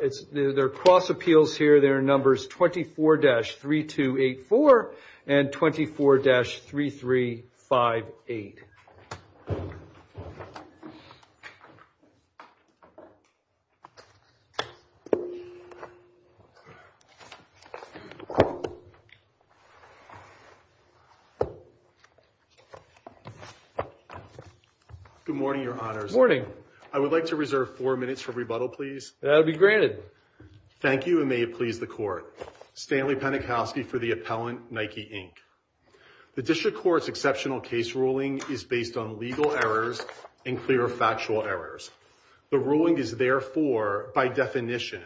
It's their cross appeals here. There are numbers 24-3284 and 24-3358. Good morning, your honors. Morning. I would like to reserve four minutes for rebuttal, please. That'll be granted. Thank you, and may it please the court. Stanley Penikowski for the appellant, Nike Inc. The district court's exceptional case ruling is based on legal errors and clear factual errors. The ruling is therefore, by definition,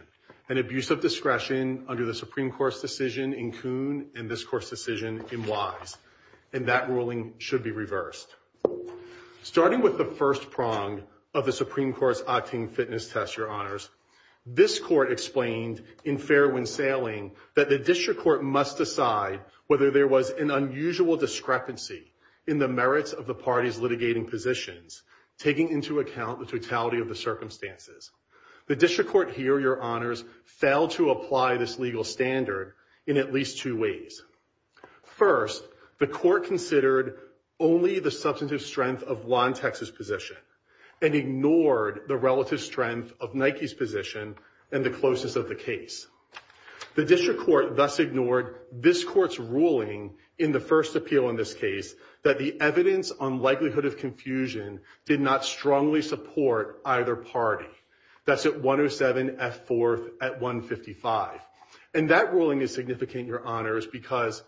an abuse of discretion under the Supreme Court's decision in Coon and this court's decision in Wise. And that ruling should be reversed. Starting with the first prong of the Supreme Court's octane fitness test, your honors, this court explained in Fairwind Sailing that the district court must decide whether there was an unusual discrepancy in the merits of the party's litigating positions, taking into account the totality of the circumstances. The district court here, your honors, failed to apply this legal standard in at least two ways. First, the court considered only the substantive strength of Lontex's position and ignored the relative strength of Nike's position and the closeness of the case. The district court thus ignored this court's ruling in the first appeal in this case, that the evidence on likelihood of confusion did not strongly support either party. That's at 107F4 at 155. And that ruling is significant, your honors, because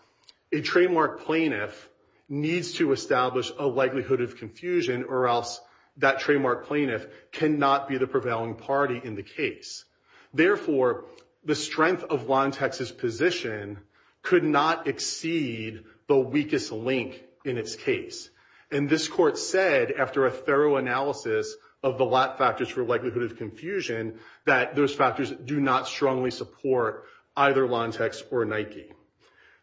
a trademark plaintiff needs to establish a likelihood of confusion or else that trademark plaintiff cannot be the prevailing party in the case. Therefore, the strength of Lontex's position could not exceed the weakest link in its case. And this court said, after a thorough analysis of the lat factors for likelihood of confusion, that those factors do not strongly support either Lontex or Nike.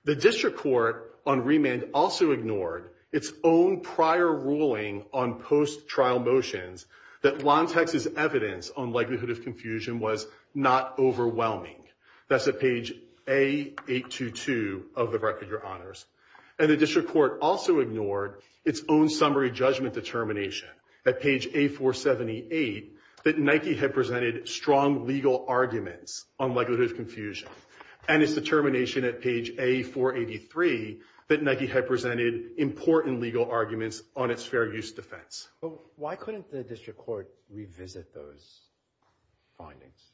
The district court on remand also ignored its own prior ruling on post-trial motions that Lontex's evidence on likelihood of confusion was not overwhelming. That's at page A822 of the record, your honors. And the district court also ignored its own summary judgment determination at page A478 that Nike had presented strong legal arguments on likelihood of confusion. And its determination at page A483 that Nike had presented important legal arguments on its fair use defense. Why couldn't the district court revisit those findings?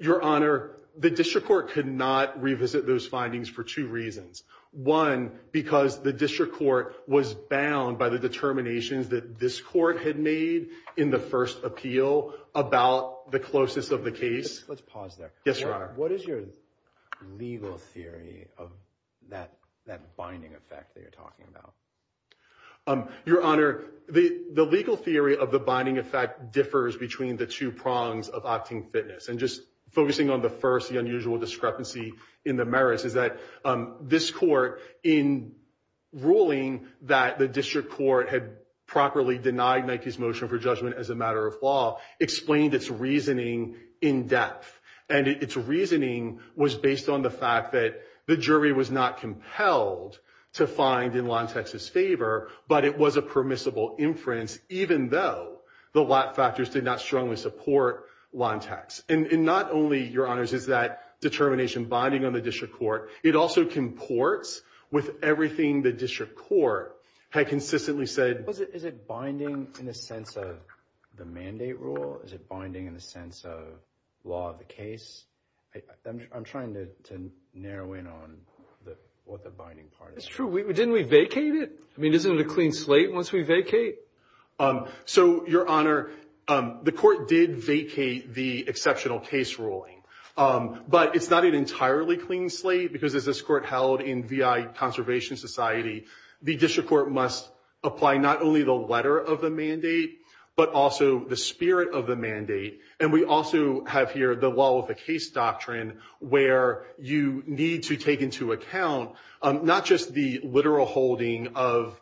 Your honor, the district court could not revisit those findings for two reasons. One, because the district court was bound by the determinations that this court had made in the first appeal about the closest of the case. Let's pause there. Yes, your honor. What is your legal theory of that binding effect that you're talking about? Your honor, the legal theory of the binding effect differs between the two prongs of opting fitness. And just focusing on the first, the unusual discrepancy in the merits is that this court, in ruling that the district court had properly denied Nike's motion for judgment as a matter of law, explained its reasoning in depth. And its reasoning was based on the fact that the jury was not compelled to find in Lontex's favor, but it was a permissible inference, even though the lot factors did not strongly support Lontex. And not only, your honors, is that determination binding on the district court, it also comports with everything the district court had consistently said. Is it binding in a sense of the mandate rule? Is it binding in the sense of law of the case? I'm trying to narrow in on what the binding part is. It's true. Didn't we vacate it? I mean, isn't it a clean slate once we vacate? So, your honor, the court did vacate the exceptional case ruling. But it's not an entirely clean slate, because as this court held in VI Conservation Society, the district court must apply not only the letter of the mandate, but also the spirit of the mandate. And we also have here the law of the case doctrine, where you need to take into account not just the literal holding of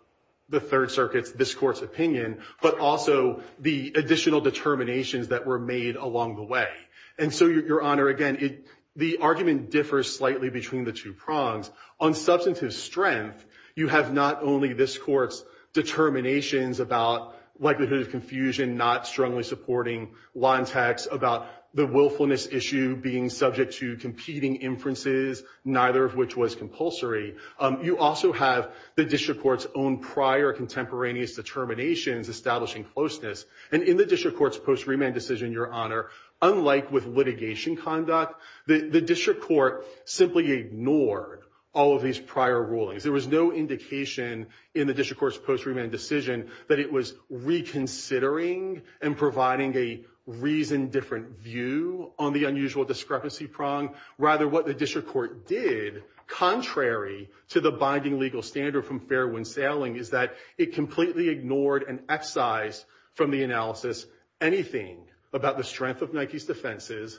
the Third Circuit's, this court's opinion, but also the additional determinations that were made along the way. And so, your honor, again, the argument differs slightly between the two prongs. On substantive strength, you have not only this court's determinations about likelihood of confusion, not strongly supporting law and tax, about the willfulness issue being subject to competing inferences, neither of which was compulsory. You also have the district court's own prior contemporaneous determinations establishing closeness. And in the district court's post-remand decision, your honor, unlike with litigation conduct, the district court simply ignored all of these prior rulings. There was no indication in the district court's post-remand decision that it was reconsidering and providing a reasoned different view on the unusual discrepancy prong. Rather, what the district court did, contrary to the binding legal standard from Fairwind Sailing, is that it completely ignored and excised from the analysis anything about the strength of Nike's defenses,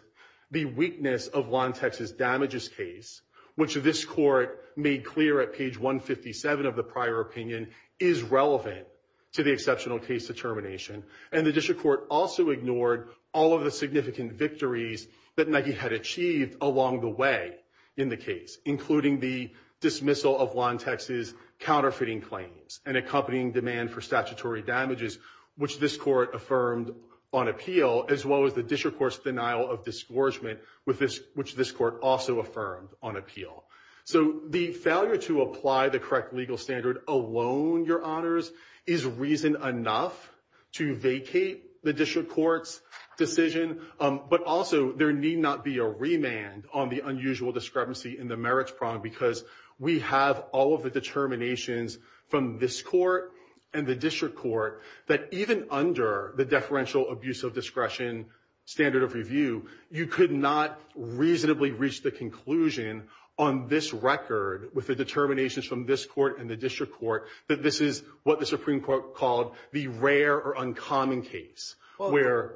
the weakness of Lantex's damages case, which this court made clear at page 157 of the prior opinion is relevant to the exceptional case determination. And the district court also ignored all of the significant victories that Nike had achieved along the way in the case, including the dismissal of Lantex's counterfeiting claims and accompanying demand for statutory damages, which this court affirmed on appeal, as well as the district court's denial of disgorgement, which this court also affirmed on appeal. So the failure to apply the correct legal standard alone, Your Honors, is reason enough to vacate the district court's decision, but also there need not be a remand on the unusual discrepancy in the merits prong because we have all of the determinations from this court and the district court that even under the deferential abuse of discretion standard of review, you could not reasonably reach the conclusion on this record with the determinations from this court and the district court that this is what the Supreme Court called the rare or uncommon case, where...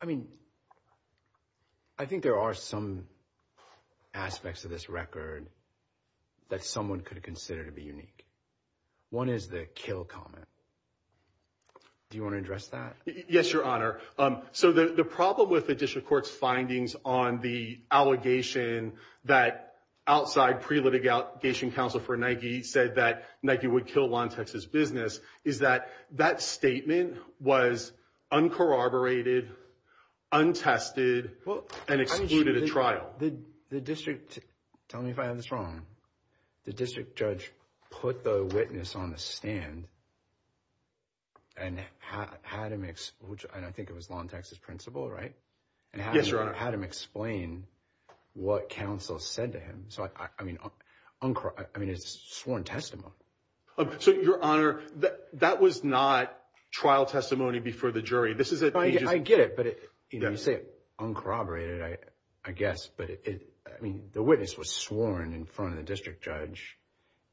I mean, I think there are some aspects of this record that someone could consider to be unique. One is the kill comment. Do you want to address that? Yes, Your Honor. So the problem with the district court's findings on the allegation that outside pre-litigation counsel for Nike said that Nike would kill Lawn Texas business is that that statement was uncorroborated, untested, and excluded a trial. The district, tell me if I have this wrong, the district judge put the witness on the stand and had him, and I think it was Lawn Texas principal, right? Yes, Your Honor. And had him explain what counsel said to him. So I mean, it's sworn testimony. So Your Honor, that was not trial testimony before the jury. This is a... I get it, but you say uncorroborated, I guess, but I mean, the witness was sworn in front of the district judge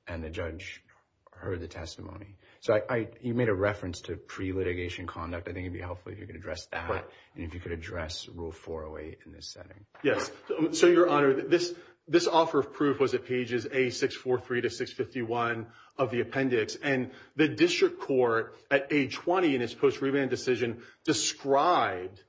and the judge heard the testimony. So you made a reference to pre-litigation conduct. I think it'd be helpful if you could address that and if you could address rule 408 in this setting. Yes, so Your Honor, this offer of proof was at pages A643 to 651 of the appendix and the district court at age 20 in its post-reband decision described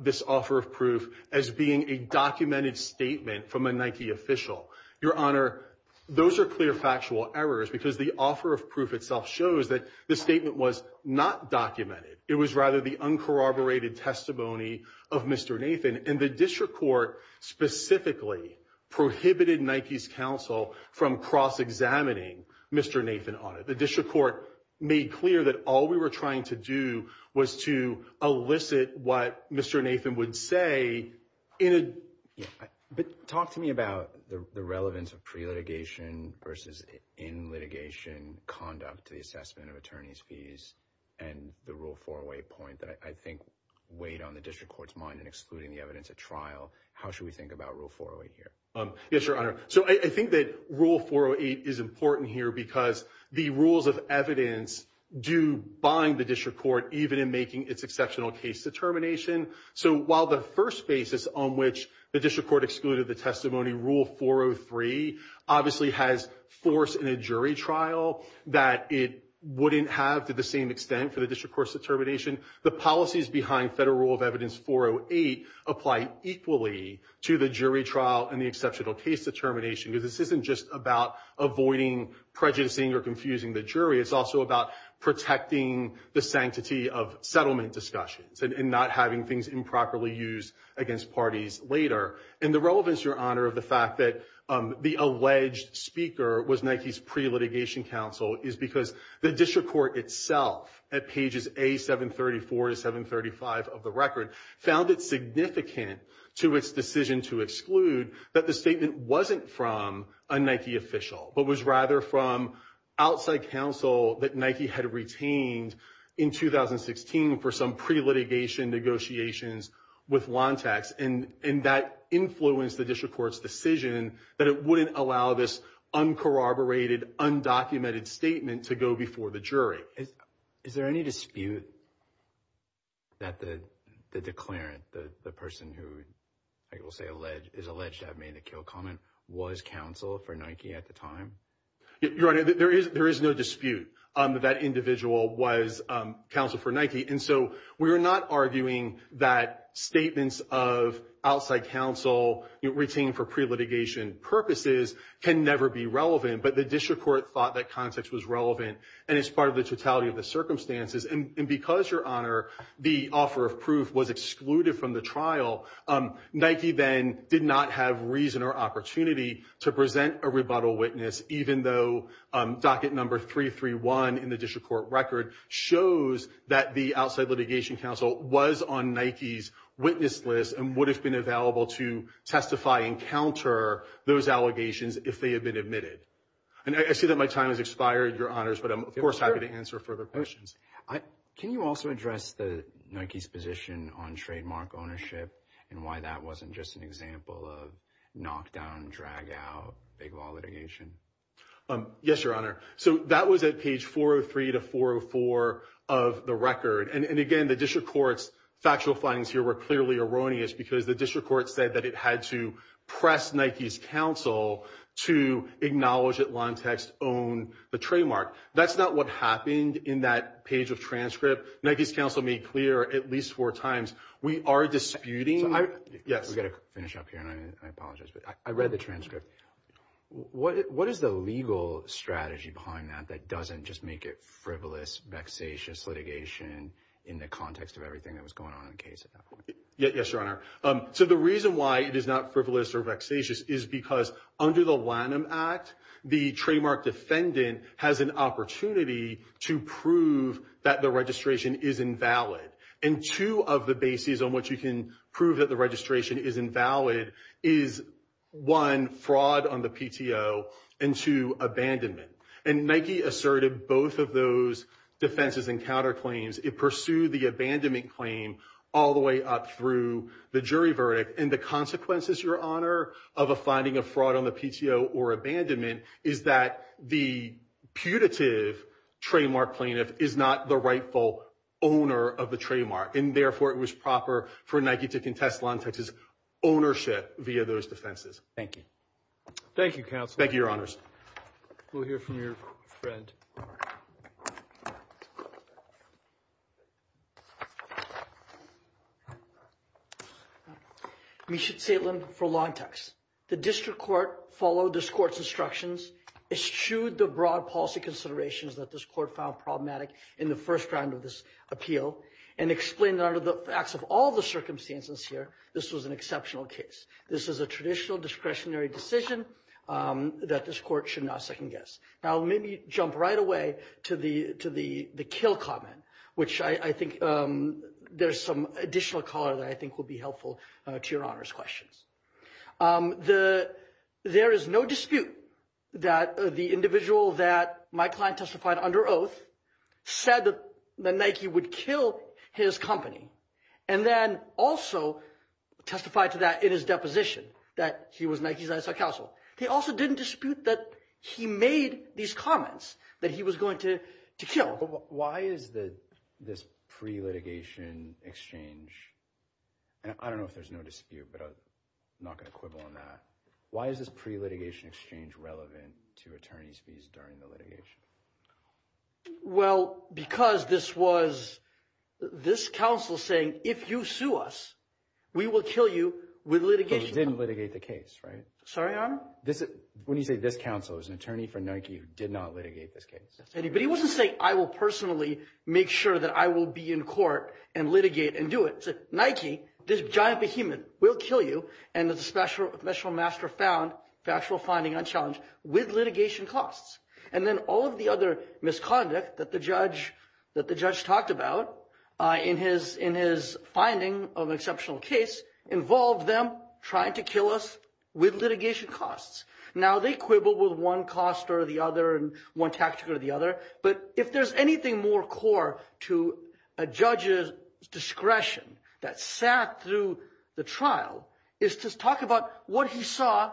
this offer of proof as being a documented statement from a Nike official. Your Honor, those are clear factual errors because the offer of proof itself shows that the statement was not documented. It was rather the uncorroborated testimony of Mr. Nathan and the district court specifically prohibited Nike's counsel from cross-examining Mr. Nathan on it. The district court made clear that all we were trying to do was to elicit what Mr. Nathan would say in a... But talk to me about the relevance of pre-litigation versus in-litigation conduct, the assessment of attorney's fees and the rule 408 point that I think weighed on the district court's mind in excluding the evidence at trial. How should we think about rule 408 here? Yes, Your Honor. So I think that rule 408 is important here because the rules of evidence do bind the district court even in making its exceptional case determination. So while the first basis on which the district court excluded the testimony rule 403 obviously has force in a jury trial that it wouldn't have to the same extent for the district court's determination, the policies behind federal rule of evidence 408 apply equally to the jury trial and the exceptional case determination because this isn't just about avoiding prejudicing or confusing the jury, it's also about protecting the sanctity of settlement discussions and not having things improperly used against parties later. And the relevance, Your Honor, of the fact that the alleged speaker was Nike's pre-litigation counsel is because the district court itself at pages A734 to 735 of the record found it significant to its decision to exclude that the statement wasn't from a Nike official but was rather from outside counsel that Nike had retained in 2016 for some pre-litigation negotiations with Lantex and that influenced the district court's decision that it wouldn't allow this uncorroborated, undocumented statement to go before the jury. Is there any dispute that the declarant, the person who I will say is alleged to have made a kill comment was counsel for Nike at the time? Your Honor, there is no dispute that that individual was counsel for Nike and so we're not arguing that statements of outside counsel retained for pre-litigation purposes can never be relevant, but the district court thought that context was relevant and it's part of the totality of the circumstances. And because, Your Honor, the offer of proof was excluded from the trial, Nike then did not have reason or opportunity to present a rebuttal witness even though docket number 331 in the district court record shows that the outside litigation counsel was on Nike's witness list and would have been available to testify and counter those allegations if they had been admitted. And I see that my time has expired, Your Honors, but I'm of course happy to answer further questions. Can you also address the Nike's position on trademark ownership and why that wasn't just an example of knock down, drag out, big law litigation? Yes, Your Honor. So that was at page 403 to 404 of the record. And again, the district court's factual findings here were clearly erroneous because the district court said that it had to press Nike's counsel to acknowledge that Lantex owned the trademark. That's not what happened in that page of transcript. Nike's counsel made clear at least four times, we are disputing, yes. We gotta finish up here and I apologize, but I read the transcript. What is the legal strategy behind that that doesn't just make it frivolous, vexatious litigation in the context of everything that was going on in the case at that point? Yes, Your Honor. So the reason why it is not frivolous or vexatious is because under the Lanham Act, the trademark defendant has an opportunity to prove that the registration is invalid. And two of the bases on what you can prove that the registration is invalid is one, fraud on the PTO and two, abandonment. And Nike asserted both of those defenses and counterclaims. It pursued the abandonment claim all the way up through the jury verdict. And the consequences, Your Honor, of a finding of fraud on the PTO or abandonment is that the putative trademark plaintiff is not the rightful owner of the trademark. And therefore, it was proper for Nike to contest Lantex's ownership via those defenses. Thank you. Thank you, counsel. Thank you, Your Honors. We'll hear from your friend. Misha Zaitlin for Lantex. The district court followed this court's instructions, eschewed the broad policy considerations that this court found problematic in the first round of this appeal, and explained that under the facts of all the circumstances here, this was an exceptional case. This is a traditional discretionary decision that this court should not second guess. Now, let me jump right away to the kill comment, which I think there's some additional color that I think will be helpful to Your Honor's questions. There is no dispute that the individual that my client testified under oath said that Nike would kill his company, and then also testified to that in his deposition that he was Nike's ISI counsel. They also didn't dispute that he made these comments that he was going to kill. Why is this pre-litigation exchange, and I don't know if there's no dispute, but I'm not gonna quibble on that. Why is this pre-litigation exchange relevant to attorney's fees during the litigation? Well, because this was this counsel saying, if you sue us, we will kill you with litigation. He didn't litigate the case, right? Sorry, Your Honor? When you say this counsel, it was an attorney for Nike who did not litigate this case. But he wasn't saying, I will personally make sure that I will be in court and litigate and do it. He said, Nike, this giant behemoth will kill you, and there's a special master found, factual finding unchallenged, with litigation costs. And then all of the other misconduct that the judge talked about in his finding of an exceptional case involved them trying to kill us with litigation costs. Now they quibble with one cost or the other and one tactic or the other, but if there's anything more core to a judge's discretion that sat through the trial, is to talk about what he saw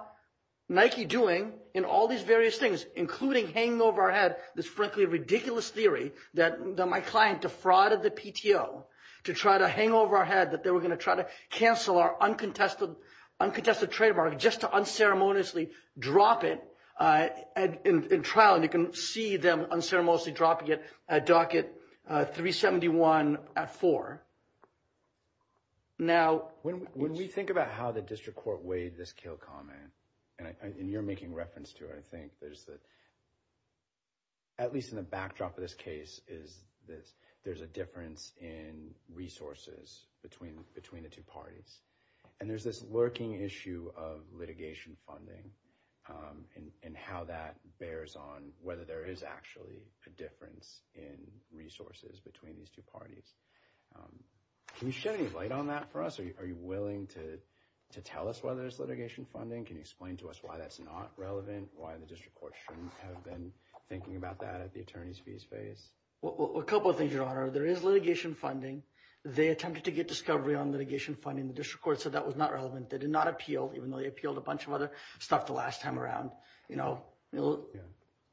Nike doing in all these various things, including hanging over our head this frankly ridiculous theory that my client defrauded the PTO to try to hang over our head that they were gonna try to cancel our uncontested trade market just to unceremoniously drop it in trial. And you can see them unceremoniously dropping it at docket 371 at four. Now- When we think about how the district court weighed this kill comment, and you're making reference to it, I think, there's the, at least in the backdrop of this case, is that there's a difference in resources between the two parties. And there's this lurking issue of litigation funding and how that bears on whether there is actually a difference in resources between these two parties. Can you shed any light on that for us? Are you willing to tell us why there's litigation funding? Can you explain to us why that's not relevant? Why the district court shouldn't have been thinking about that at the attorney's fees phase? Well, a couple of things, your honor. There is litigation funding. They attempted to get discovery on litigation funding. The district court said that was not relevant. They did not appeal, even though they appealed a bunch of other stuff the last time around.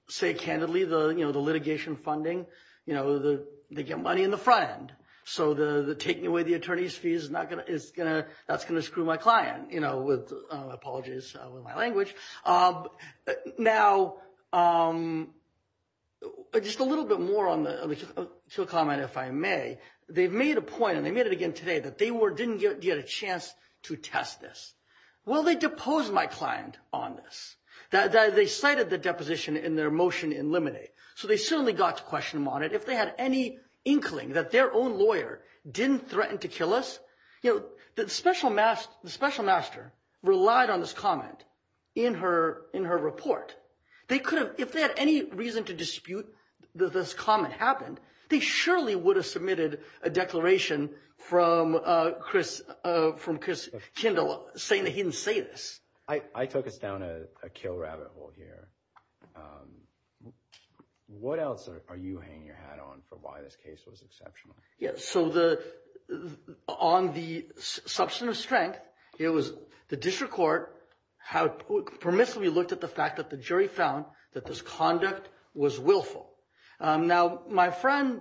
Say candidly, the litigation funding, they get money in the front end. So the taking away the attorney's fees is not gonna, that's gonna screw my client, with apologies with my language. Now, just a little bit more on the, to comment if I may, they've made a point and they made it again today that they didn't get a chance to test this. Well, they deposed my client on this, that they cited the deposition in their motion in limine. So they certainly got to question them on it. If they had any inkling that their own lawyer didn't threaten to kill us, the special master relied on this comment in her report. They could have, if they had any reason to dispute that this comment happened, they surely would have submitted a declaration from Chris Kindle saying that he didn't say this. I took us down a kill rabbit hole here. What else are you hanging your hat on for why this case was exceptional? Yeah, so the, on the substance of strength, it was the district court, how it permissibly looked at the fact that the jury found that this conduct was willful. Now my friend,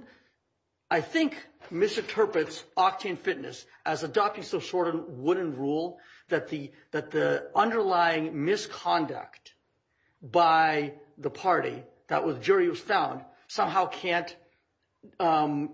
I think misinterprets Octane Fitness as adopting some sort of wooden rule that the underlying misconduct by the party that was jury was found, somehow can't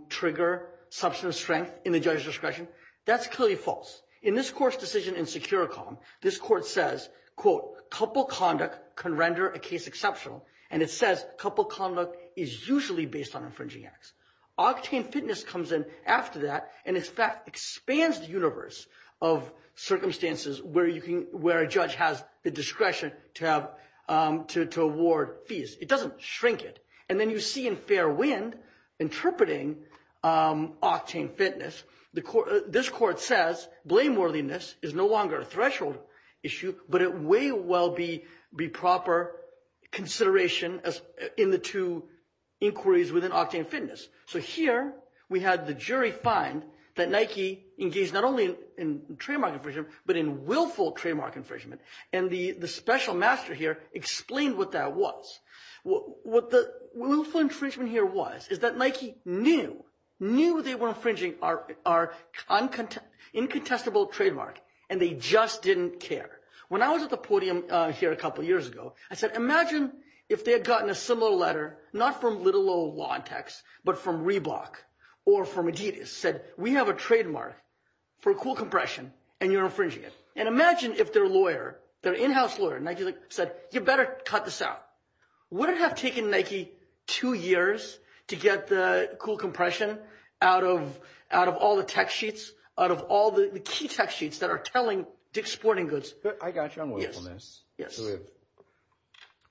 trigger substance of strength in the judge's discretion. That's clearly false. In this court's decision in Securicom, this court says, quote, couple conduct can render a case exceptional. And it says couple conduct is usually based on infringing acts. Octane Fitness comes in after that and in fact expands the universe of circumstances where a judge has the discretion to award fees. It doesn't shrink it. And then you see in Fairwind interpreting Octane Fitness, the court, this court says blame worthiness is no longer a threshold issue, but it way well be proper consideration as in the two inquiries within Octane Fitness. So here we had the jury find that Nike engaged not only in trademark infringement, but in willful trademark infringement. And the special master here explained what that was. What the willful infringement here was is that Nike knew, knew they were infringing our incontestable trademark and they just didn't care. When I was at the podium here a couple of years ago, I said, imagine if they had gotten a similar letter, not from little old law and tax, but from Reebok or from Adidas said, we have a trademark for cool compression and you're infringing it. And imagine if their lawyer, their in-house lawyer, Nike said, you better cut this out. Would it have taken Nike two years to get the cool compression out of all the tech sheets, out of all the key tech sheets that are telling Dick's Sporting Goods? I got you on willfulness. Yes.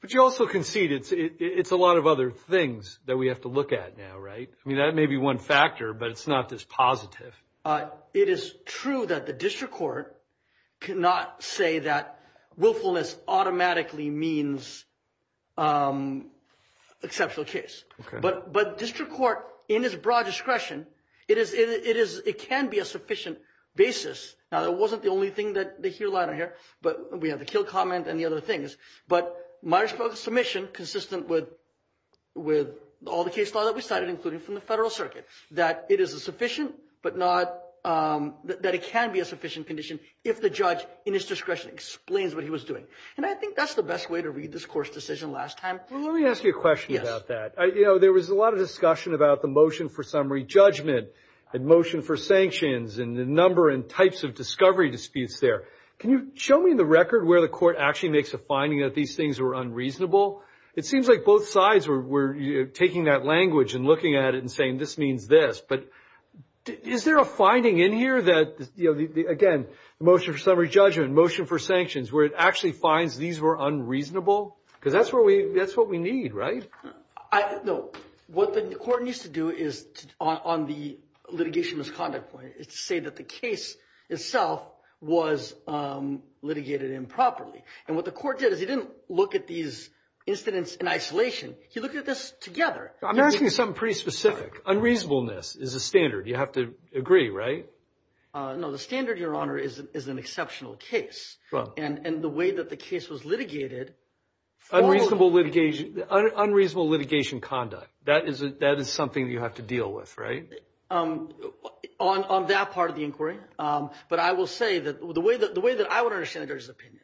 But you also concede it's a lot of other things that we have to look at now, right? I mean, that may be one factor, but it's not this positive. It is true that the district court cannot say that willfulness automatically means exceptional case. But district court in its broad discretion, it can be a sufficient basis. Now, that wasn't the only thing that they hear, lie on here, but we have the kill comment and the other things, but Myers-Briggs submission consistent with all the case law that we cited, including from the federal circuit, that it is a sufficient, but not that it can be a sufficient condition if the judge in his discretion explains what he was doing. And I think that's the best way to read this court's decision last time. Well, let me ask you a question about that. There was a lot of discussion about the motion for summary judgment and motion for sanctions and the number and types of discovery disputes there. Can you show me the record where the court actually makes a finding that these things were unreasonable? It seems like both sides were taking that language and looking at it and saying, this means this, but is there a finding in here that, again, the motion for summary judgment, motion for sanctions, where it actually finds these were unreasonable? Because that's where we, that's what we need, right? No, what the court needs to do is on the litigation misconduct point, it's to say that the case itself was litigated improperly. And what the court did is he didn't look at these incidents in isolation. He looked at this together. I'm asking you something pretty specific. Unreasonableness is a standard. You have to agree, right? No, the standard, Your Honor, is an exceptional case. And the way that the case was litigated. Unreasonable litigation, unreasonable litigation conduct. That is something that you have to deal with, right? On that part of the inquiry. But I will say that the way that I would understand Judge's opinion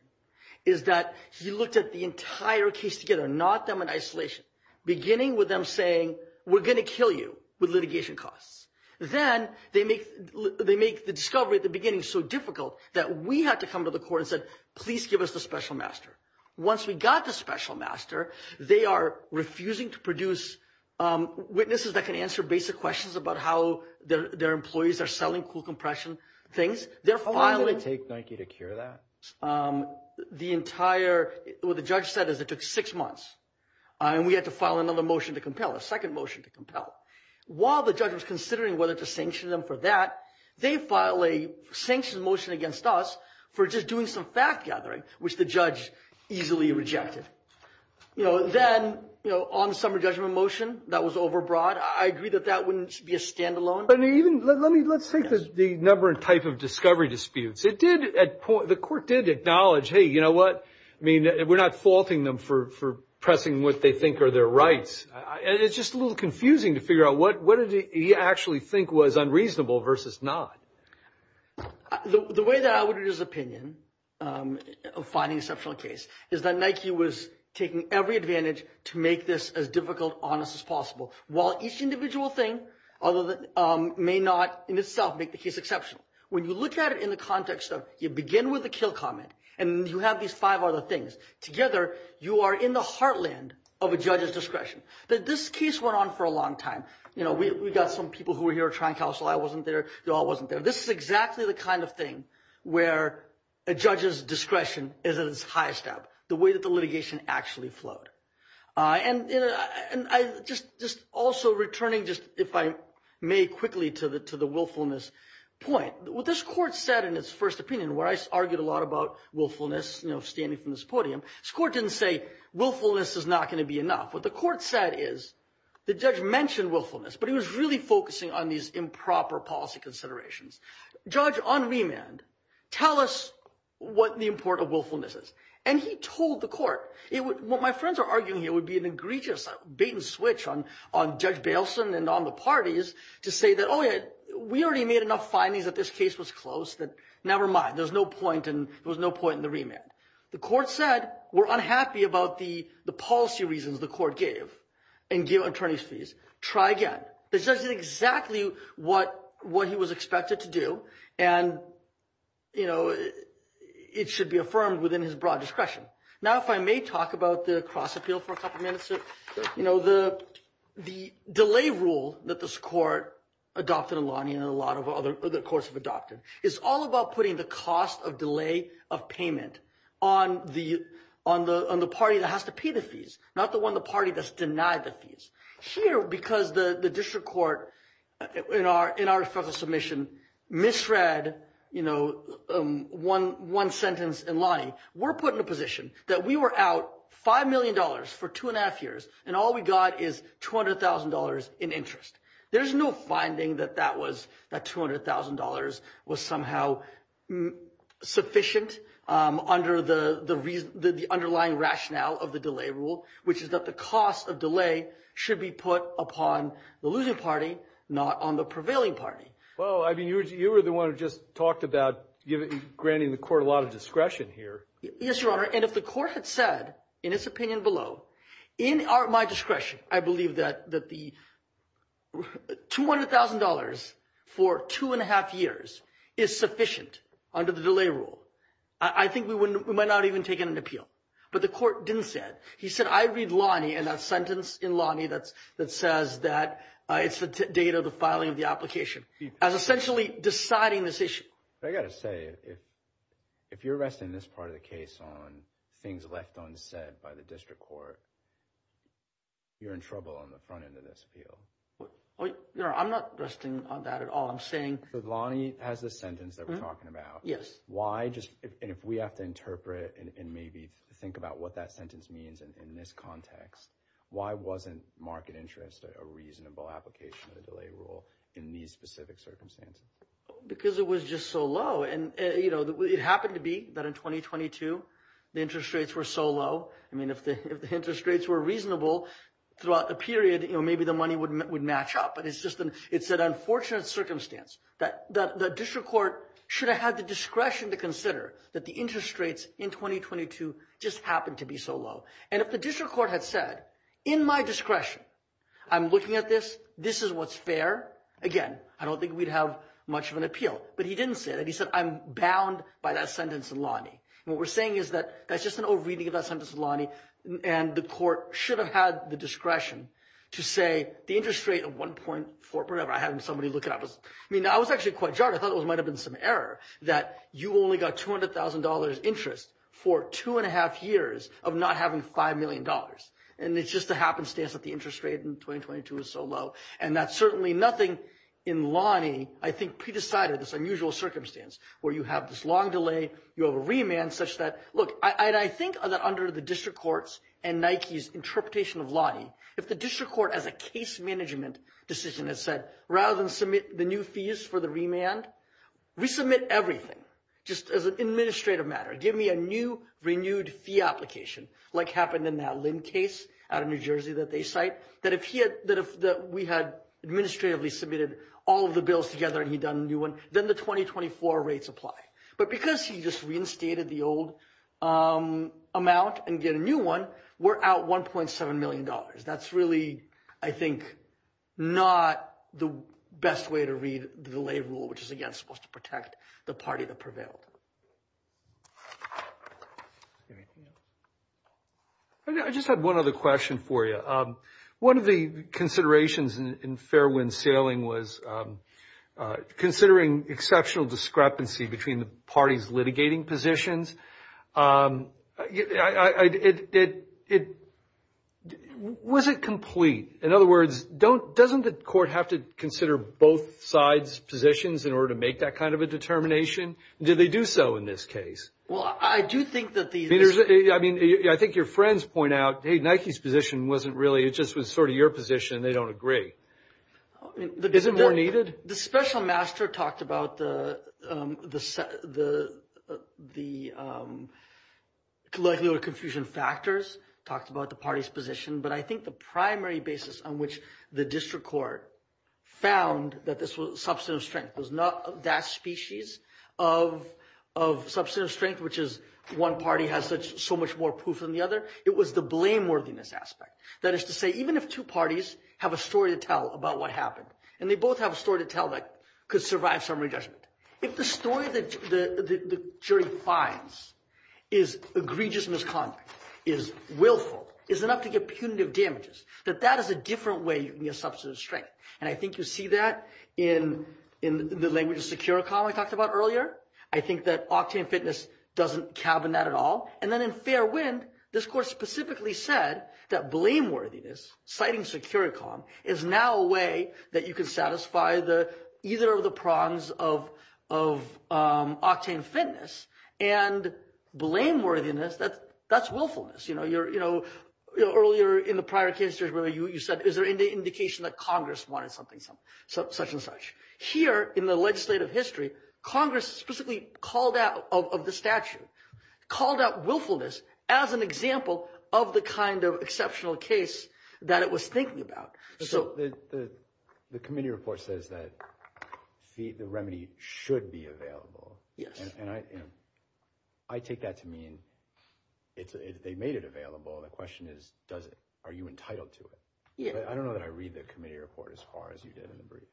is that he looked at the entire case together, not them in isolation, beginning with them saying, we're gonna kill you with litigation costs. Then they make the discovery at the beginning so difficult that we had to come to the court and said, please give us the special master. Once we got the special master, they are refusing to produce witnesses that can answer basic questions about how their employees are selling cool compression things. They're filing- How long did it take Nike to cure that? The entire, what the judge said is it took six months. And we had to file another motion to compel, a second motion to compel. While the judge was considering whether to sanction them for that, they file a sanctioned motion against us for just doing some fact gathering, which the judge easily rejected. Then, on the summary judgment motion, that was overbroad. I agree that that wouldn't be a standalone. But even, let's take the number and type of discovery disputes. It did, at point, the court did acknowledge, hey, you know what? I mean, we're not faulting them for pressing what they think are their rights. It's just a little confusing to figure out what did he actually think was unreasonable versus not. The way that I would read his opinion of finding exceptional case is that Nike was taking every advantage to make this as difficult, honest as possible. While each individual thing may not, in itself, make the case exceptional. When you look at it in the context of you begin with the kill comment, and you have these five other things, together, you are in the heartland of a judge's discretion. This case went on for a long time. We got some people who were here trying to counsel, I wasn't there, you all wasn't there. This is exactly the kind of thing where a judge's discretion is at its highest ebb, the way that the litigation actually flowed. Also, returning just, if I may, quickly to the willfulness point. What this court said in its first opinion, where I argued a lot about willfulness, standing from this podium, this court didn't say willfulness is not gonna be enough. What the court said is, the judge mentioned willfulness, but he was really focusing on these improper policy considerations. Judge on remand, tell us what the import of willfulness is. And he told the court, what my friends are arguing here would be an egregious bait and switch on Judge Bailson and on the parties, to say that, oh yeah, we already made enough findings that this case was close, that nevermind, there's no point, and there was no point in the remand. The court said, we're unhappy about the policy reasons the court gave, and give attorneys fees, try again. This is exactly what he was expected to do, and it should be affirmed within his broad discretion. Now, if I may talk about the cross appeal for a couple of minutes, the delay rule that this court adopted in Lonnie and a lot of other courts have adopted, is all about putting the cost of delay of payment on the party that has to pay the fees, not the one, the party that's denied the fees. Here, because the district court in our submission, misread one sentence in Lonnie, we're put in a position that we were out $5 million for two and a half years, and all we got is $200,000 in interest. There's no finding that that was, that $200,000 was somehow sufficient under the underlying rationale of the delay rule, which is that the cost of delay should be put upon the losing party, not on the prevailing party. Well, I mean, you were the one who just talked about granting the court a lot of discretion here. Yes, Your Honor, and if the court had said, in its opinion below, in my discretion, I believe that the $200,000 for two and a half years is sufficient under the delay rule, I think we might not even have taken an appeal. But the court didn't say that. He said, I read Lonnie and that sentence in Lonnie that says that it's the date of the filing of the application, as essentially deciding this issue. I gotta say, if you're resting this part of the case on things left unsaid by the district court, you're in trouble on the front end of this appeal. Your Honor, I'm not resting on that at all. Lonnie has this sentence that we're talking about. Why, and if we have to interpret and maybe think about what that sentence means in this context, why wasn't market interest a reasonable application of the delay rule in these specific circumstances? Because it was just so low. And it happened to be that in 2022, the interest rates were so low. I mean, if the interest rates were reasonable throughout the period, maybe the money would match up. But it's just an unfortunate circumstance that the district court should have had the discretion to consider that the interest rates in 2022 just happened to be so low. And if the district court had said, in my discretion, I'm looking at this, this is what's fair. Again, I don't think we'd have much of an appeal. But he didn't say that. He said, I'm bound by that sentence in Lonnie. What we're saying is that that's just an overreading of that sentence in Lonnie. And the court should have had the discretion to say the interest rate of 1.4, whatever I had in somebody looking at this. I mean, I was actually quite jarred. I thought it might've been some error that you only got $200,000 interest for two and a half years of not having $5 million. And it's just a happenstance that the interest rate in 2022 is so low. And that's certainly nothing in Lonnie, I think, pre-decided this unusual circumstance where you have this long delay, you have a remand such that, look, and I think that under the district courts and Nike's interpretation of Lonnie, if the district court, as a case management decision has said, rather than submit the new fees for the remand, resubmit everything just as an administrative matter. Give me a new, renewed fee application like happened in that Lynn case out of New Jersey that they cite, that if we had administratively submitted all of the bills together and he'd done a new one, then the 2024 rates apply. But because he just reinstated the old amount and did a new one, we're out $1.7 million. That's really, I think, not the best way to read the delay rule, which is, again, supposed to protect the party that prevailed. I just had one other question for you. One of the considerations in Fairwind Sailing was considering exceptional discrepancy between the parties litigating positions. Was it complete? In other words, doesn't the court have to consider both sides' positions in order to make that kind of a determination? Did they do so in this case? Well, I do think that the... I mean, I think your friends point out, hey, Nike's position wasn't really, it just was sort of your position. They don't agree. Is it more needed? The special master talked about the likelihood of confusion factors, talked about the party's position, but I think the primary basis on which the district court found that this was substantive strength was not that species of substantive strength, which is one party has so much more proof than the other. It was the blameworthiness aspect. That is to say, even if two parties have a story to tell about what happened, and they both have a story to tell that could survive summary judgment, if the story that the jury finds is egregious misconduct, is willful, is enough to get punitive damages, that that is a different way you can get substantive strength. And I think you see that in the language of Securicom I talked about earlier. I think that Octane Fitness doesn't cabin that at all. And then in Fairwind, this court specifically said that blameworthiness, citing Securicom, is now a way that you can satisfy either of the prongs of Octane Fitness, and blameworthiness, that's willfulness. Earlier in the prior case, you said, is there any indication that Congress wanted such and such? Here, in the legislative history, Congress specifically called out of the statute, called out willfulness as an example of the kind of exceptional case that it was thinking about. So the committee report says that the remedy should be available. Yes. And I take that to mean they made it available. The question is, does it? Are you entitled to it? Yeah. I don't know that I read the committee report as far as you did in the brief.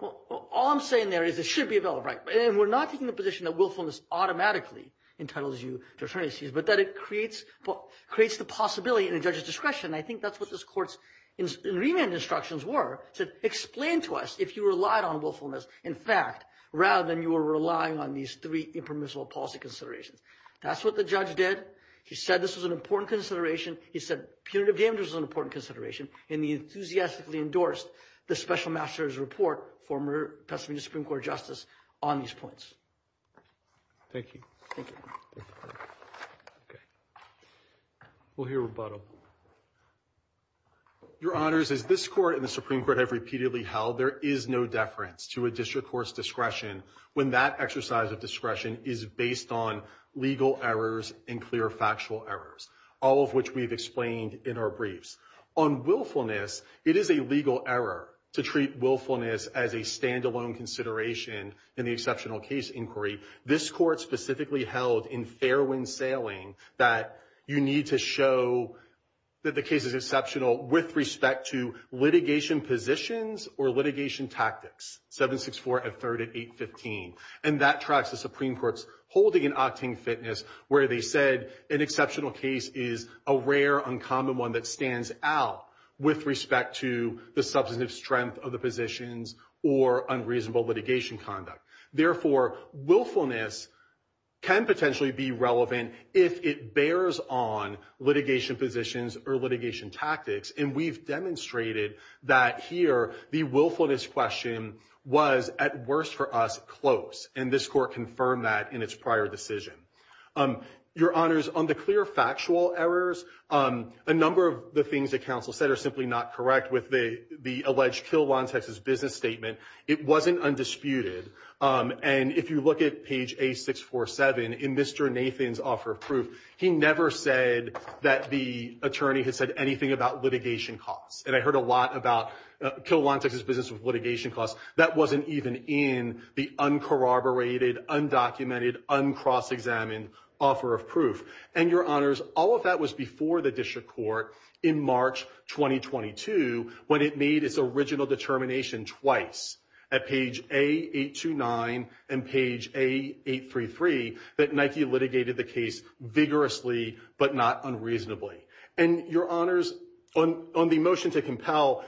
Well, all I'm saying there is it should be available, right? And we're not taking the position that willfulness automatically entitles you to attorney's fees, but that it creates the possibility in a judge's discretion. I think that's what this court's remand instructions were. Said, explain to us if you relied on willfulness, in fact, rather than you were relying on these three impermissible policy considerations. That's what the judge did. He said this was an important consideration. He said punitive damages was an important consideration. And he enthusiastically endorsed the special master's report, former Pasadena Supreme Court Justice, on these points. Thank you. Thank you. We'll hear a rebuttal. Your Honors, as this court and the Supreme Court have repeatedly held, there is no deference to a district court's discretion when that exercise of discretion is based on legal errors and clear factual errors, all of which we've explained in our briefs. On willfulness, it is a legal error to treat willfulness as a standalone consideration in the exceptional case inquiry. This court specifically held in Fairwind Sailing that you need to show that the case is exceptional with respect to litigation positions or litigation tactics, 764 at 3815. And that tracks the Supreme Court's holding in Octane Fitness where they said an exceptional case is a rare uncommon one that stands out with respect to the substantive strength of the positions or unreasonable litigation conduct. Therefore, willfulness can potentially be relevant if it bears on litigation positions or litigation tactics. And we've demonstrated that here, the willfulness question was, at worst for us, close. And this court confirmed that in its prior decision. Your Honors, on the clear factual errors, a number of the things that counsel said are simply not correct with the alleged Kill Law in Texas business statement. It wasn't undisputed. And if you look at page A647 in Mr. Nathan's offer of proof, he never said that the attorney had said anything about litigation costs. And I heard a lot about Kill Law in Texas business with litigation costs. That wasn't even in the uncorroborated, undocumented, uncross-examined offer of proof. And Your Honors, all of that was before the District Court in March 2022, when it made its original determination twice at page A829 and page A833 that Nike litigated the case vigorously but not unreasonably. And Your Honors, on the motion to compel,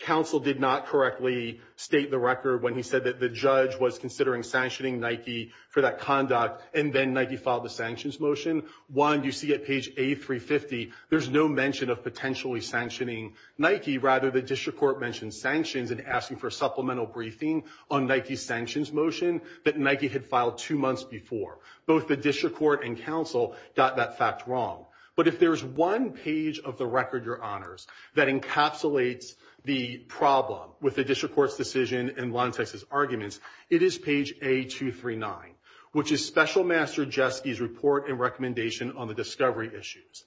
counsel did not correctly state the record when he said that the judge was considering sanctioning Nike for that conduct and then Nike filed the sanctions motion. One, you see at page A350, there's no mention of potentially sanctioning Nike. Rather, the District Court mentioned sanctions and asking for a supplemental briefing on Nike's sanctions motion that Nike had filed two months before. Both the District Court and counsel got that fact wrong. But if there's one page of the record, that encapsulates the problem with the District Court's decision and Law in Texas's arguments, it is page A239, which is Special Master Jeske's report and recommendation on the discovery issues.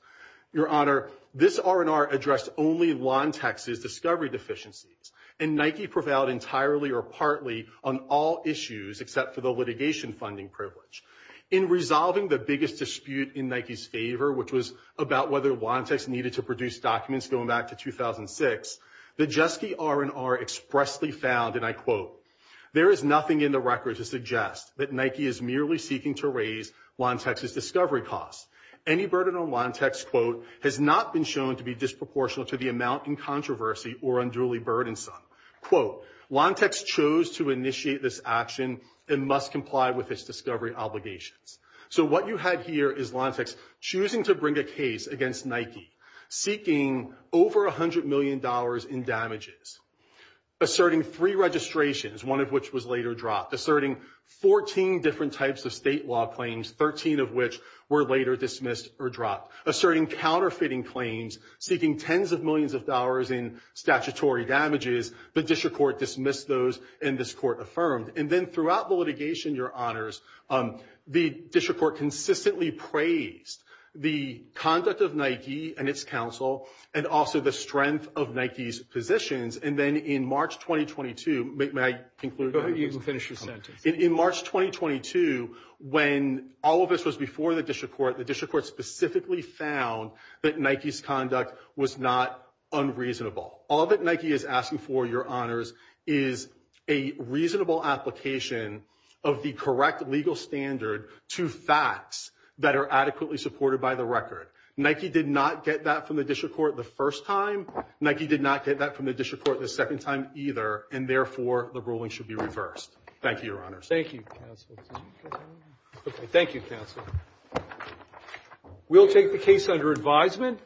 Your Honor, this R&R addressed only Law in Texas discovery deficiencies and Nike prevailed entirely or partly on all issues except for the litigation funding privilege. In resolving the biggest dispute in Nike's favor, which was about whether Law in Texas needed to produce documents going back to 2006, the Jeske R&R expressly found, and I quote, there is nothing in the record to suggest that Nike is merely seeking to raise Law in Texas's discovery costs. Any burden on Law in Texas, quote, has not been shown to be disproportional to the amount in controversy or unduly burdensome. Quote, Law in Texas chose to initiate this action and must comply with its discovery obligations. So what you had here is Law in Texas choosing to bring a case against Nike, seeking over $100 million in damages, asserting three registrations, one of which was later dropped, asserting 14 different types of state law claims, 13 of which were later dismissed or dropped, asserting counterfeiting claims, seeking tens of millions of dollars in statutory damages, but district court dismissed those and this court affirmed. And then throughout the litigation, your honors, the district court consistently praised the conduct of Nike and its counsel and also the strength of Nike's positions. And then in March, 2022, may I conclude? Go ahead, you can finish your sentence. In March, 2022, when all of this was before the district court, the district court specifically found that Nike's conduct was not unreasonable. All that Nike is asking for, your honors, is a reasonable application of the correct legal standard to facts that are adequately supported by the record. Nike did not get that from the district court the first time. Nike did not get that from the district court the second time either and therefore, the ruling should be reversed. Thank you, your honors. Thank you, counsel. Okay, thank you, counsel. We'll take the case under advisement.